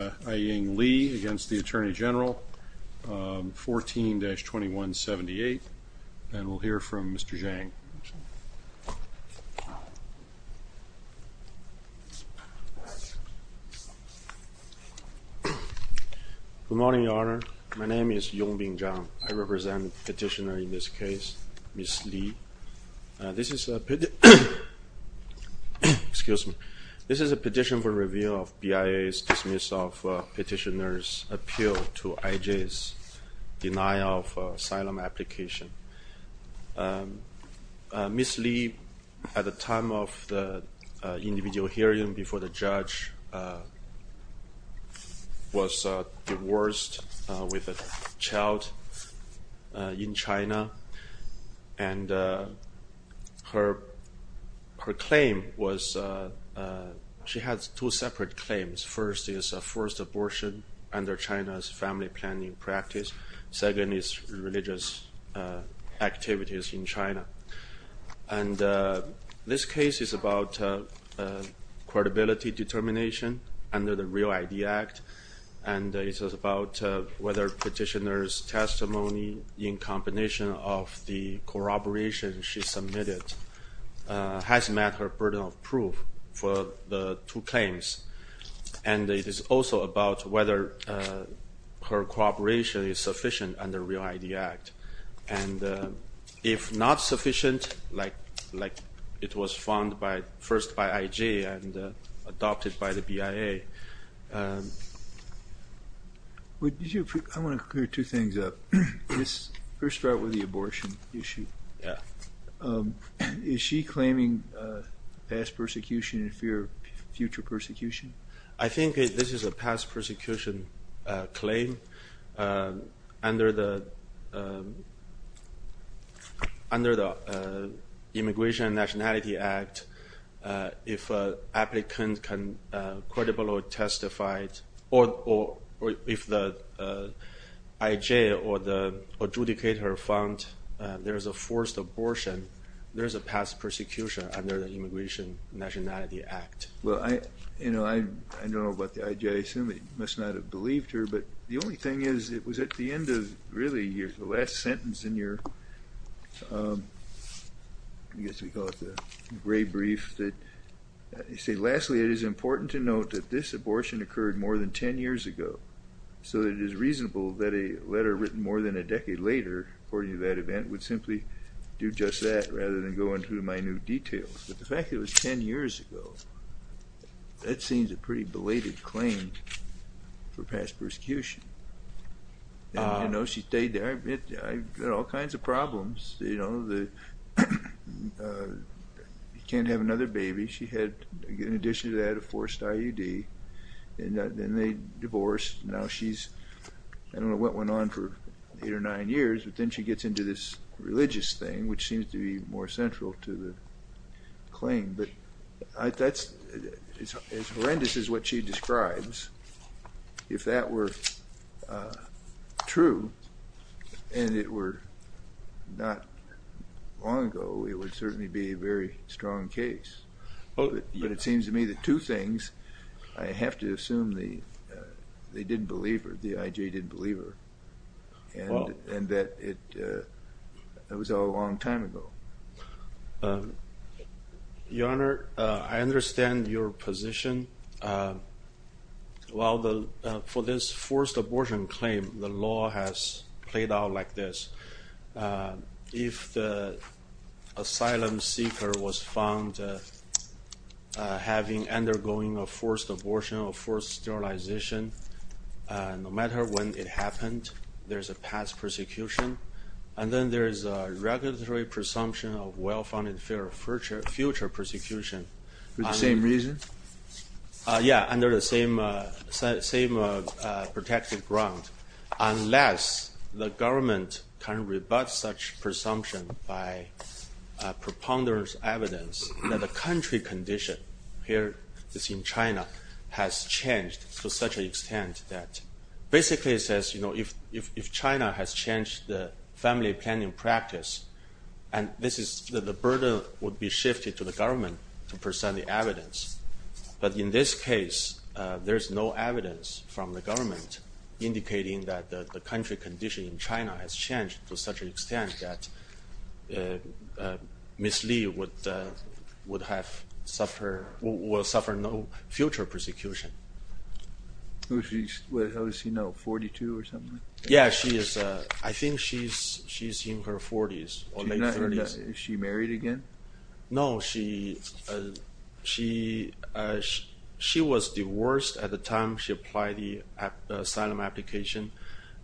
Aiyang Li against the Attorney General, 14-2178. And we'll hear from Mr. Zhang. Good morning, Your Honor. My name is Yongbin Zhang. I represent petitioner in this case, Ms. Li. This is a petition for review of BIA's dismissal of petitioner's appeal to IJ's denial of asylum application. Ms. Li, at the time of the individual hearing before the judge, was two separate claims. First is a forced abortion under China's family planning practice. Second is religious activities in China. And this case is about credibility determination under the Real ID Act, and it's about whether petitioner's testimony, in combination of the corroboration she submitted, has met her burden of proof for the two claims. And it is also about whether her corroboration is sufficient under Real ID Act. And if not sufficient, like it was found first by IJ and adopted by the BIA. I want to clear two things up. Let's first start with the abortion issue. Yeah. Is she claiming past persecution in fear of future persecution? I think this is a past persecution claim under the Immigration and Nationality Act. If applicants can be credible or testified, or if the IJ or the adjudicator found there's a forced abortion, there's a past persecution under the Immigration and Nationality Act. Well I, you know, I don't know about the IJ. I assume they must not have believed her. But the only thing is, it was at the end of, really, the last sentence in your, I guess we call it the gray brief, that you say, lastly it is important to note that this abortion occurred more than 10 years ago. So it is reasonable that a letter written more than a decade later, according to that event, would simply do just that rather than go into minute details. But the fact it was 10 years ago, that seems a pretty belated claim for past persecution. You know, she stayed there. I've got all kinds of problems, you know. You can't have another baby. She had, in addition to that, a forced IUD, and then they divorced. Now she's, I don't know what went on for eight or nine years, but then she gets into this religious thing, which seems to be more central to the claim. But that's as horrendous as what she describes. If that were true, and it were not long ago, it would certainly be a very strong case. But it seems to me that two things, I have to assume they didn't believe her, the IJ didn't believe her, and that it was all a long time ago. Your Honor, I understand your position. While for this forced abortion claim, the law has played out like this. If the asylum seeker was found having undergoing a forced abortion or forced sterilization, no matter when it happened, there's a past persecution. And then there is a regulatory presumption of well-founded future persecution. For the same reason? Yeah, under the same protective ground. Unless the government can rebut such presumption by propounder's evidence that the country condition here is in China has changed to such an extent that basically says, you know, if China has changed the family planning practice, and this is, the burden would be shifted to the government to present the evidence. But in this case, there's no evidence from the government indicating that the country condition in China has changed to such an extent that Ms. Li would have suffered, will suffer no future persecution. Was she, how does she know, 42 or something? Yeah, she is, I think she's in her 40s. Is she married again? No, she was divorced at the time she applied the asylum application,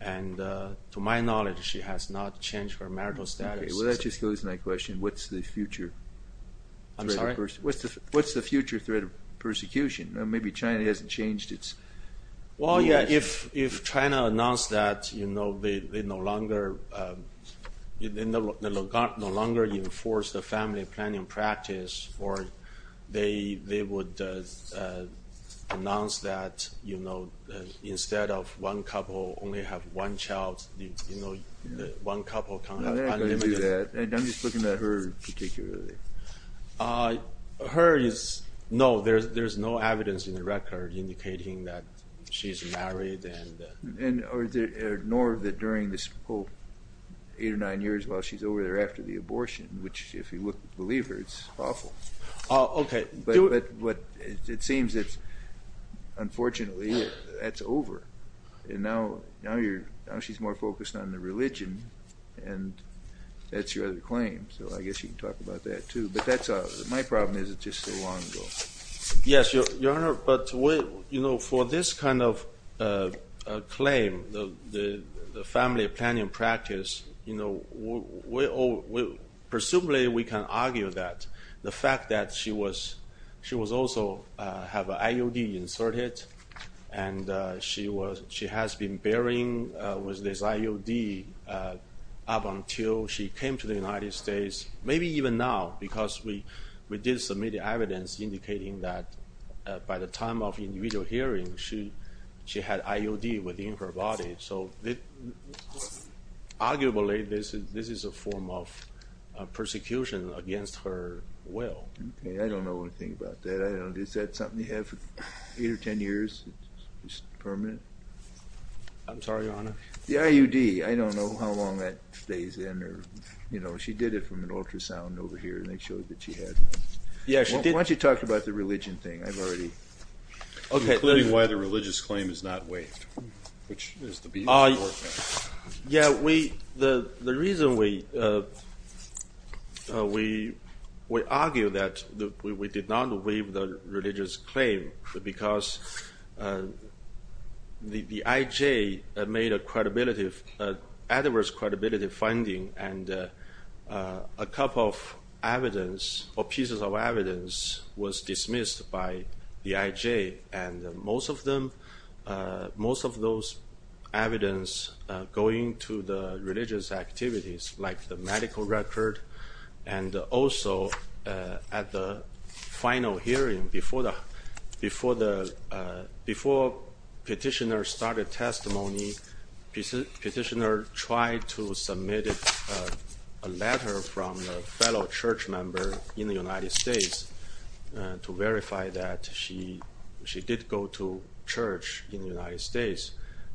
and to my knowledge she has not changed her marital status. Well, that just goes to my question, what's the future? I'm sorry? What's the future threat of persecution? Maybe China hasn't changed its... Well, yeah, if they no longer enforce the family planning practice, or they would announce that, you know, instead of one couple only have one child, you know, one couple kind of unlimited... I'm not going to do that, I'm just looking at her particularly. Her is, no, there's no evidence in the record indicating that she's married and... Nor that during this whole eight or nine years while she's over there after the abortion, which if you look at the believer, it's awful. Okay. But what it seems it's, unfortunately, that's over, and now you're, now she's more focused on the religion, and that's your other claim, so I guess you can talk about that too, but that's, my problem is it's just so long ago. Yes, Your Honor, but wait, you know, for this kind of claim, the family planning practice, you know, presumably we can argue that the fact that she was, she was also have an IOD inserted, and she was, she has been bearing with this IOD up until she came to the United States, maybe even now, because we did submit evidence indicating that by the time of her body, so arguably this is a form of persecution against her will. I don't know anything about that, I don't know, is that something you have eight or ten years? Permanent? I'm sorry, Your Honor? The IOD, I don't know how long that stays in, or, you know, she did it from an ultrasound over here, and they showed that she had... Yeah, she did... Why don't you talk about the religion thing, I've already... Okay, why the religious claim is not waived? Yeah, we, the reason we, we argue that we did not waive the religious claim, because the IJ made a credibility, adverse credibility finding, and a couple of evidence, or pieces of evidence, was most of them, most of those evidence going to the religious activities, like the medical record, and also at the final hearing, before the, before the, before petitioner started testimony, petitioner tried to submit a letter from a church in the United States,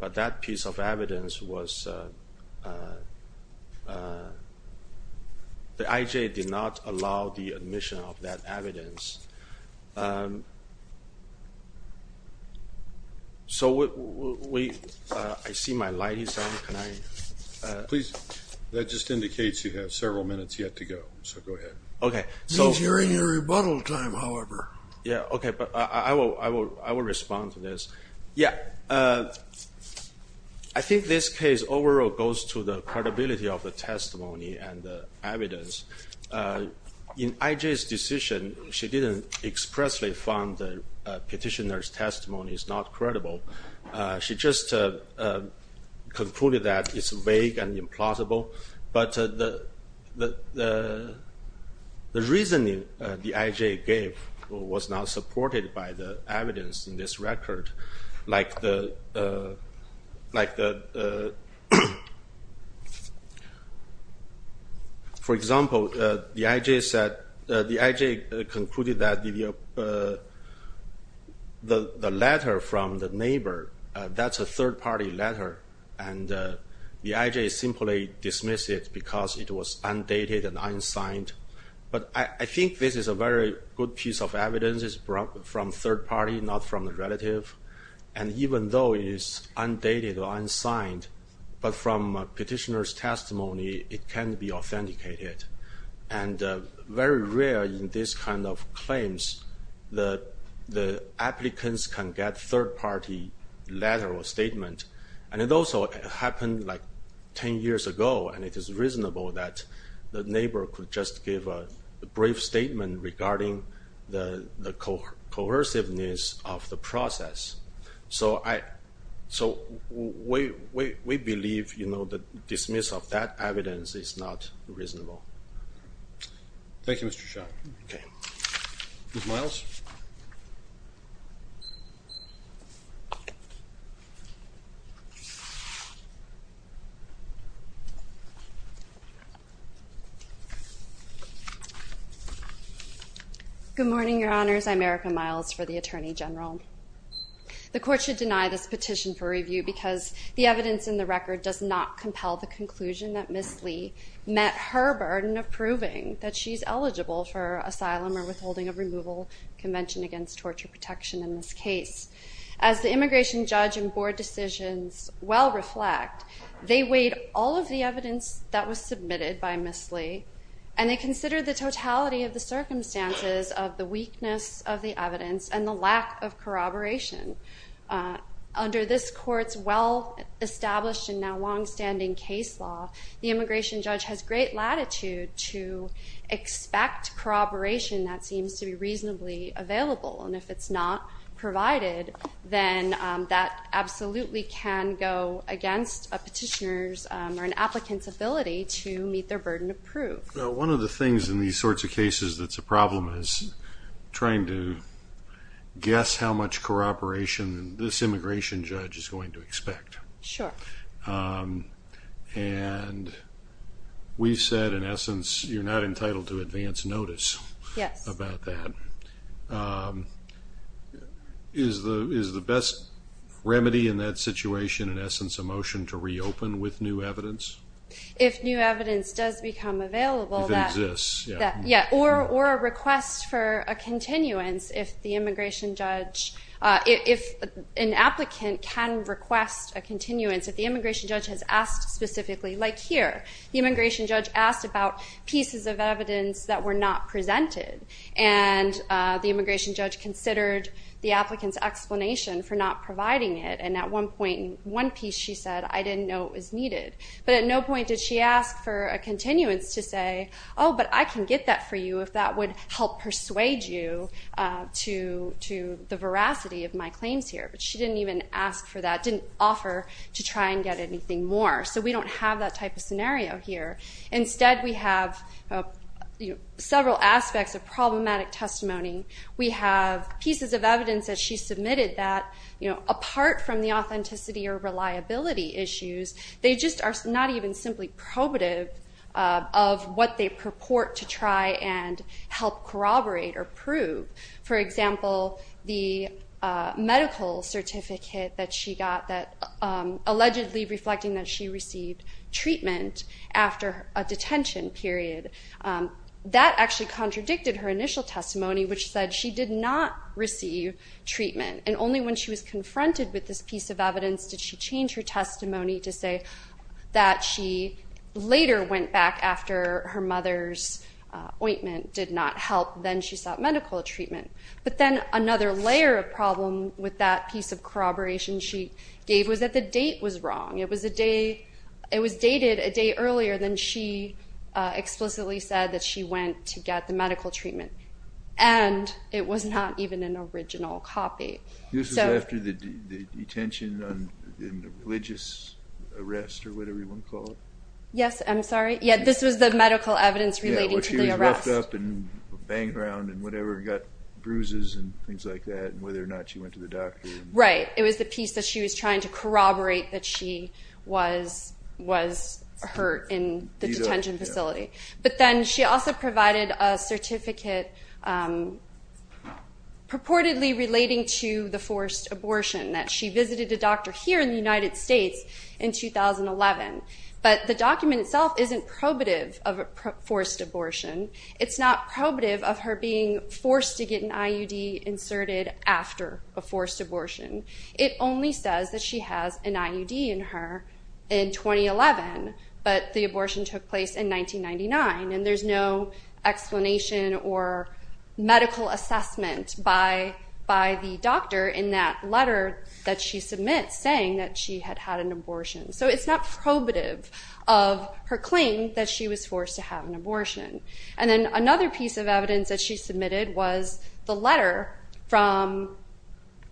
but that piece of evidence was, the IJ did not allow the admission of that evidence. So we, I see my light is on, can I... Please, that just indicates you have several minutes yet to go, so go ahead. Okay, so... It means you're in your response to this. Yeah, I think this case overall goes to the credibility of the testimony and the evidence. In IJ's decision, she didn't expressly found the petitioner's testimony is not credible. She just concluded that it's vague and implausible, but the reasoning the IJ gave was not supported by the this record. Like the, like the, for example, the IJ said, the IJ concluded that the letter from the neighbor, that's a third-party letter, and the IJ simply dismissed it because it was undated and unsigned. But I think this is a very good piece of evidence, it's from third party, not from the relative, and even though it is undated or unsigned, but from petitioner's testimony, it can be authenticated. And very rare in this kind of claims that the applicants can get third-party letter or statement, and it also happened like 10 years ago, and it is reasonable that the neighbor could just give a brief statement regarding the coerciveness of the process. So I, so we believe, you know, the dismiss of that evidence is not reasonable. Thank you, Mr. Xia. Okay. Ms. Miles? Good morning, Your Honors. I'm Erica Miles for the Attorney General. The court should deny this petition for review because the evidence in the record does not compel the conclusion that Ms. Lee met her burden of proving that she's eligible for asylum or withholding of removal convention against torture protection in this case. As the immigration judge and board decisions well reflect, they weighed all of the evidence that was submitted by Ms. Lee, and they considered the totality of the circumstances of the weakness of the evidence and the lack of corroboration. Under this court's well-established and now long-standing case law, the immigration judge has great latitude to expect corroboration that seems to be reasonably available, and if it's not provided, then that absolutely can go against a petitioner's or an applicant's ability to meet their burden of proof. One of the things in these sorts of cases that's a problem is trying to guess how much corroboration this immigration judge is going to expect. Sure. And we've said, in essence, you're not entitled to advance notice about that. Is the best remedy in that situation, in essence, a motion to reopen with new evidence? If new evidence does become available, or a request for a continuance, if the immigration judge, if an applicant can request a continuance, if the immigration judge has asked specifically, like here, the immigration judge asked about pieces of evidence that were not presented, and the immigration judge considered the applicant's explanation for not providing it, and at one point, one piece she said, I didn't know it was needed. But at no point did she ask for a continuance to say, oh, but I can get that for you if that would help persuade you to the veracity of my claims here. But she didn't even ask for that, didn't offer to try and get anything more. So we don't have that type of scenario here. Instead, we have several aspects of problematic testimony. We have pieces of evidence that she submitted that, apart from the authenticity or reliability issues, they just are not even simply probative of what they purport to try and help corroborate or prove. For example, the medical certificate that she got that allegedly reflecting that she received treatment after a detention period, that actually contradicted her initial testimony, which said she did not receive treatment. And only when she was confronted with this piece of evidence did she change her testimony to say that she later went back after her mother's ointment did not help, then she sought medical treatment. But then another layer of problem with that piece of corroboration she gave was that the date was wrong. It was dated a day earlier than she explicitly said that she went to get the medical treatment. And it was not even an original copy. This was after the detention in the religious arrest, or whatever you want to call it? Yes, I'm sorry. Yeah, this was the medical evidence relating to the arrest. She was left up and banged around and got bruises and things like that, and whether or not she went to the doctor. Right, it was the piece that she was trying to corroborate that she was hurt in the detention facility. But then she also provided a certificate purportedly relating to the forced abortion, that she visited a doctor here in the United States in 2011. But the document itself isn't probative of a It's not probative of her being forced to get an IUD inserted after a forced abortion. It only says that she has an IUD in her in 2011, but the abortion took place in 1999. And there's no explanation or medical assessment by the doctor in that letter that she submits saying that she had had an abortion. So it's not probative of her claim that she was forced to have an abortion. And then another piece of evidence that she submitted was the letter from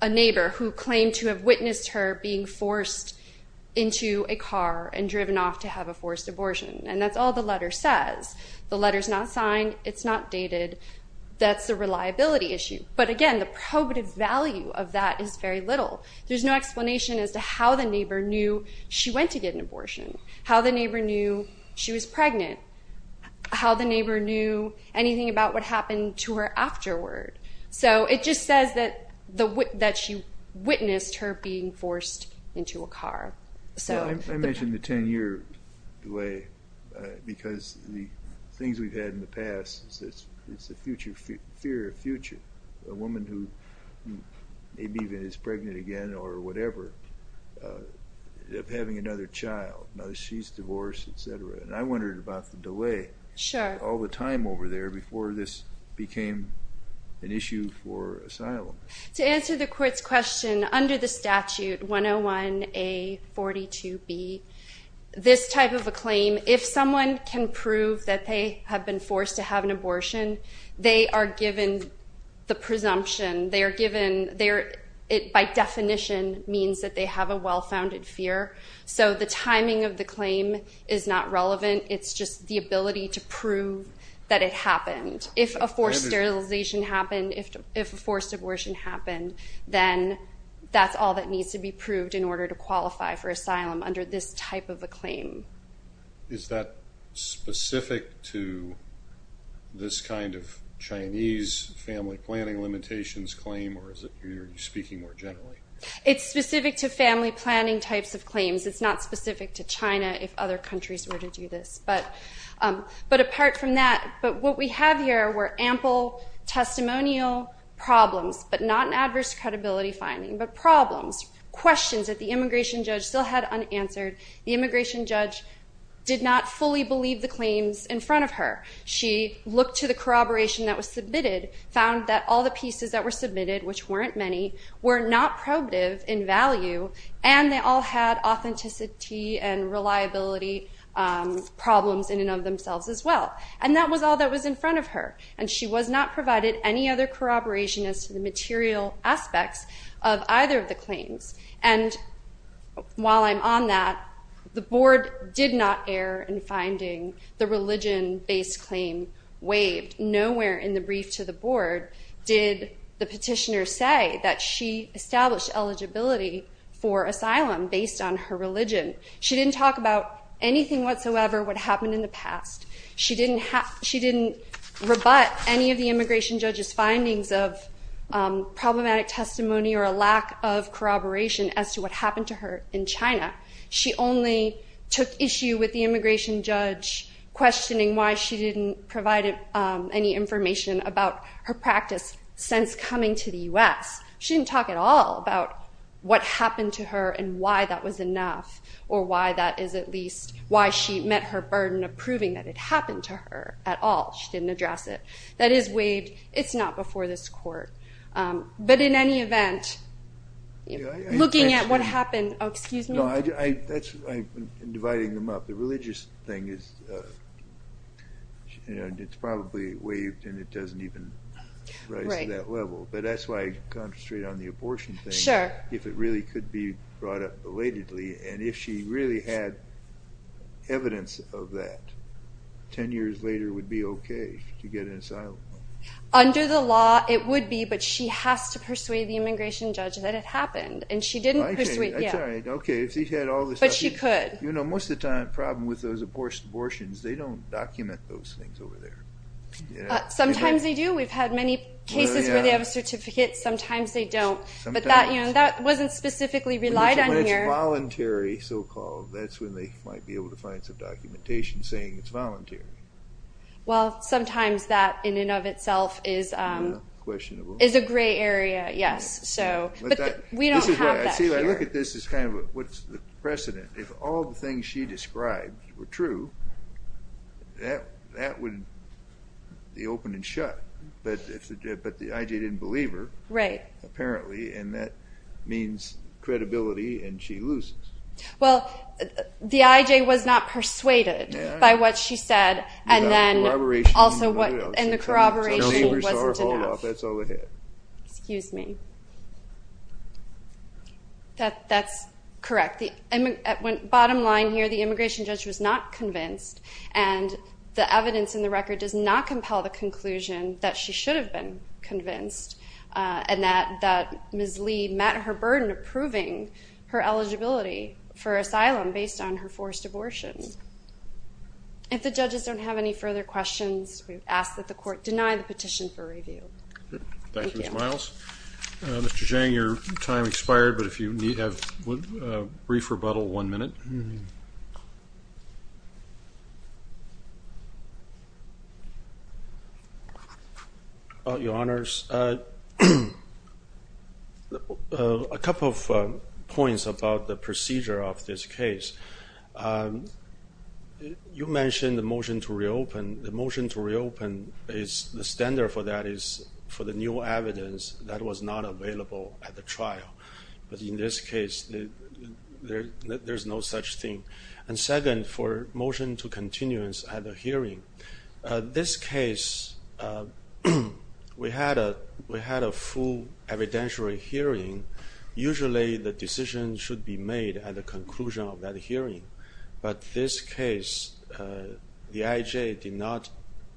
a neighbor who claimed to have witnessed her being forced into a car and driven off to have a forced abortion. And that's all the letter says. The letter's not signed. It's not dated. That's a reliability issue. But again, the probative value of that is very little. There's no explanation as to how the neighbor knew she went to get an abortion, how the neighbor knew she was forced into a car, how the neighbor knew anything about what happened to her afterward. So it just says that she witnessed her being forced into a car. I mentioned the 10-year delay because the things we've had in the past, it's the future, fear of future. A woman who maybe even is pregnant again or whatever of having another child. Now she's divorced, etc. And I wondered about the all the time over there before this became an issue for asylum. To answer the court's question, under the statute 101A42B, this type of a claim, if someone can prove that they have been forced to have an abortion, they are given the presumption. They are given, by definition, means that they have a well-founded fear. So the timing of the claim is not relevant. It's just the ability to prove that it happened. If a forced sterilization happened, if a forced abortion happened, then that's all that needs to be proved in order to qualify for asylum under this type of a claim. Is that specific to this kind of Chinese family planning limitations claim or is it you're speaking more generally? It's specific to family planning types of claims. It's not But apart from that, what we have here were ample testimonial problems, but not an adverse credibility finding, but problems. Questions that the immigration judge still had unanswered. The immigration judge did not fully believe the claims in front of her. She looked to the corroboration that was submitted, found that all the pieces that were submitted, which weren't many, were not probative in value, and they all had authenticity and reliability problems in of themselves as well. And that was all that was in front of her. And she was not provided any other corroboration as to the material aspects of either of the claims. And while I'm on that, the board did not err in finding the religion-based claim waived. Nowhere in the brief to the board did the petitioner say that she established eligibility for asylum based on her religion. She didn't talk about anything whatsoever what happened in the past. She didn't rebut any of the immigration judge's findings of problematic testimony or a lack of corroboration as to what happened to her in China. She only took issue with the immigration judge questioning why she didn't provide any information about her practice since coming to the U.S. She didn't talk at all about what happened to her and why that was enough, or why that is at least why she met her burden of proving that it happened to her at all. She didn't address it. That is waived. It's not before this court. But in any event, looking at what happened, oh excuse me. I'm dividing them up. The religious thing is, you know, it's probably waived and it doesn't even rise to that level. But that's why I concentrate on the brought up belatedly, and if she really had evidence of that, ten years later would be okay to get an asylum. Under the law it would be, but she has to persuade the immigration judge that it happened, and she didn't. Okay, if she had all the stuff. But she could. You know, most of the time, the problem with those abortions, they don't document those things over there. Sometimes they do. We've had many cases where they have a certificate, sometimes they don't. But that, you know, that wasn't specifically relied on here. When it's voluntary, so-called, that's when they might be able to find some documentation saying it's voluntary. Well, sometimes that in and of itself is a gray area, yes. So, but we don't have that here. I look at this as kind of what's the precedent. If all the things she described were true, that would be open and shut. But the IJ didn't believe her, apparently, and that means credibility, and she loses. Well, the IJ was not persuaded by what she said, and then also what, and the corroboration wasn't enough. Excuse me. That's correct. The bottom line here, the immigration judge was not convinced, and the evidence in the record does not and that Ms. Lee met her burden of proving her eligibility for asylum based on her forced abortions. If the judges don't have any further questions, we ask that the court deny the petition for review. Thank you, Ms. Miles. Mr. Zhang, your time A couple of points about the procedure of this case. You mentioned the motion to reopen. The motion to reopen is, the standard for that is for the new evidence that was not available at the trial. But in this case, there's no such thing. And second, for motion to continuance at a hearing. This case, we had a full evidentiary hearing. Usually, the decision should be made at the conclusion of that hearing. But this case, the IJ did not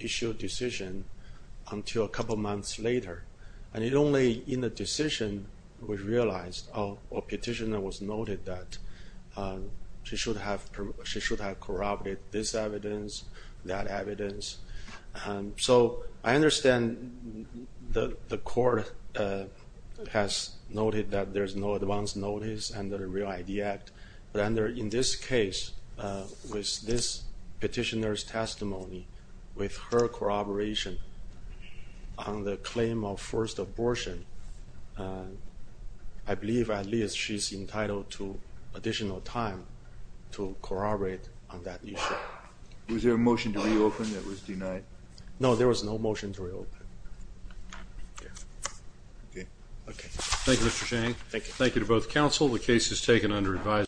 issue a decision until a couple months later. And only in the decision, we realized a petitioner was noted that she should have corroborated this evidence, that the court has noted that there's no advance notice under the Real ID Act. But under, in this case, with this petitioner's testimony, with her corroboration on the claim of forced abortion, I believe at least she's entitled to additional time to corroborate on that issue. Was there a motion to reopen that was denied? No, there was no case. Okay. Okay. Thank you, Mr Chang. Thank you. Thank you to both council. The case is taken under advised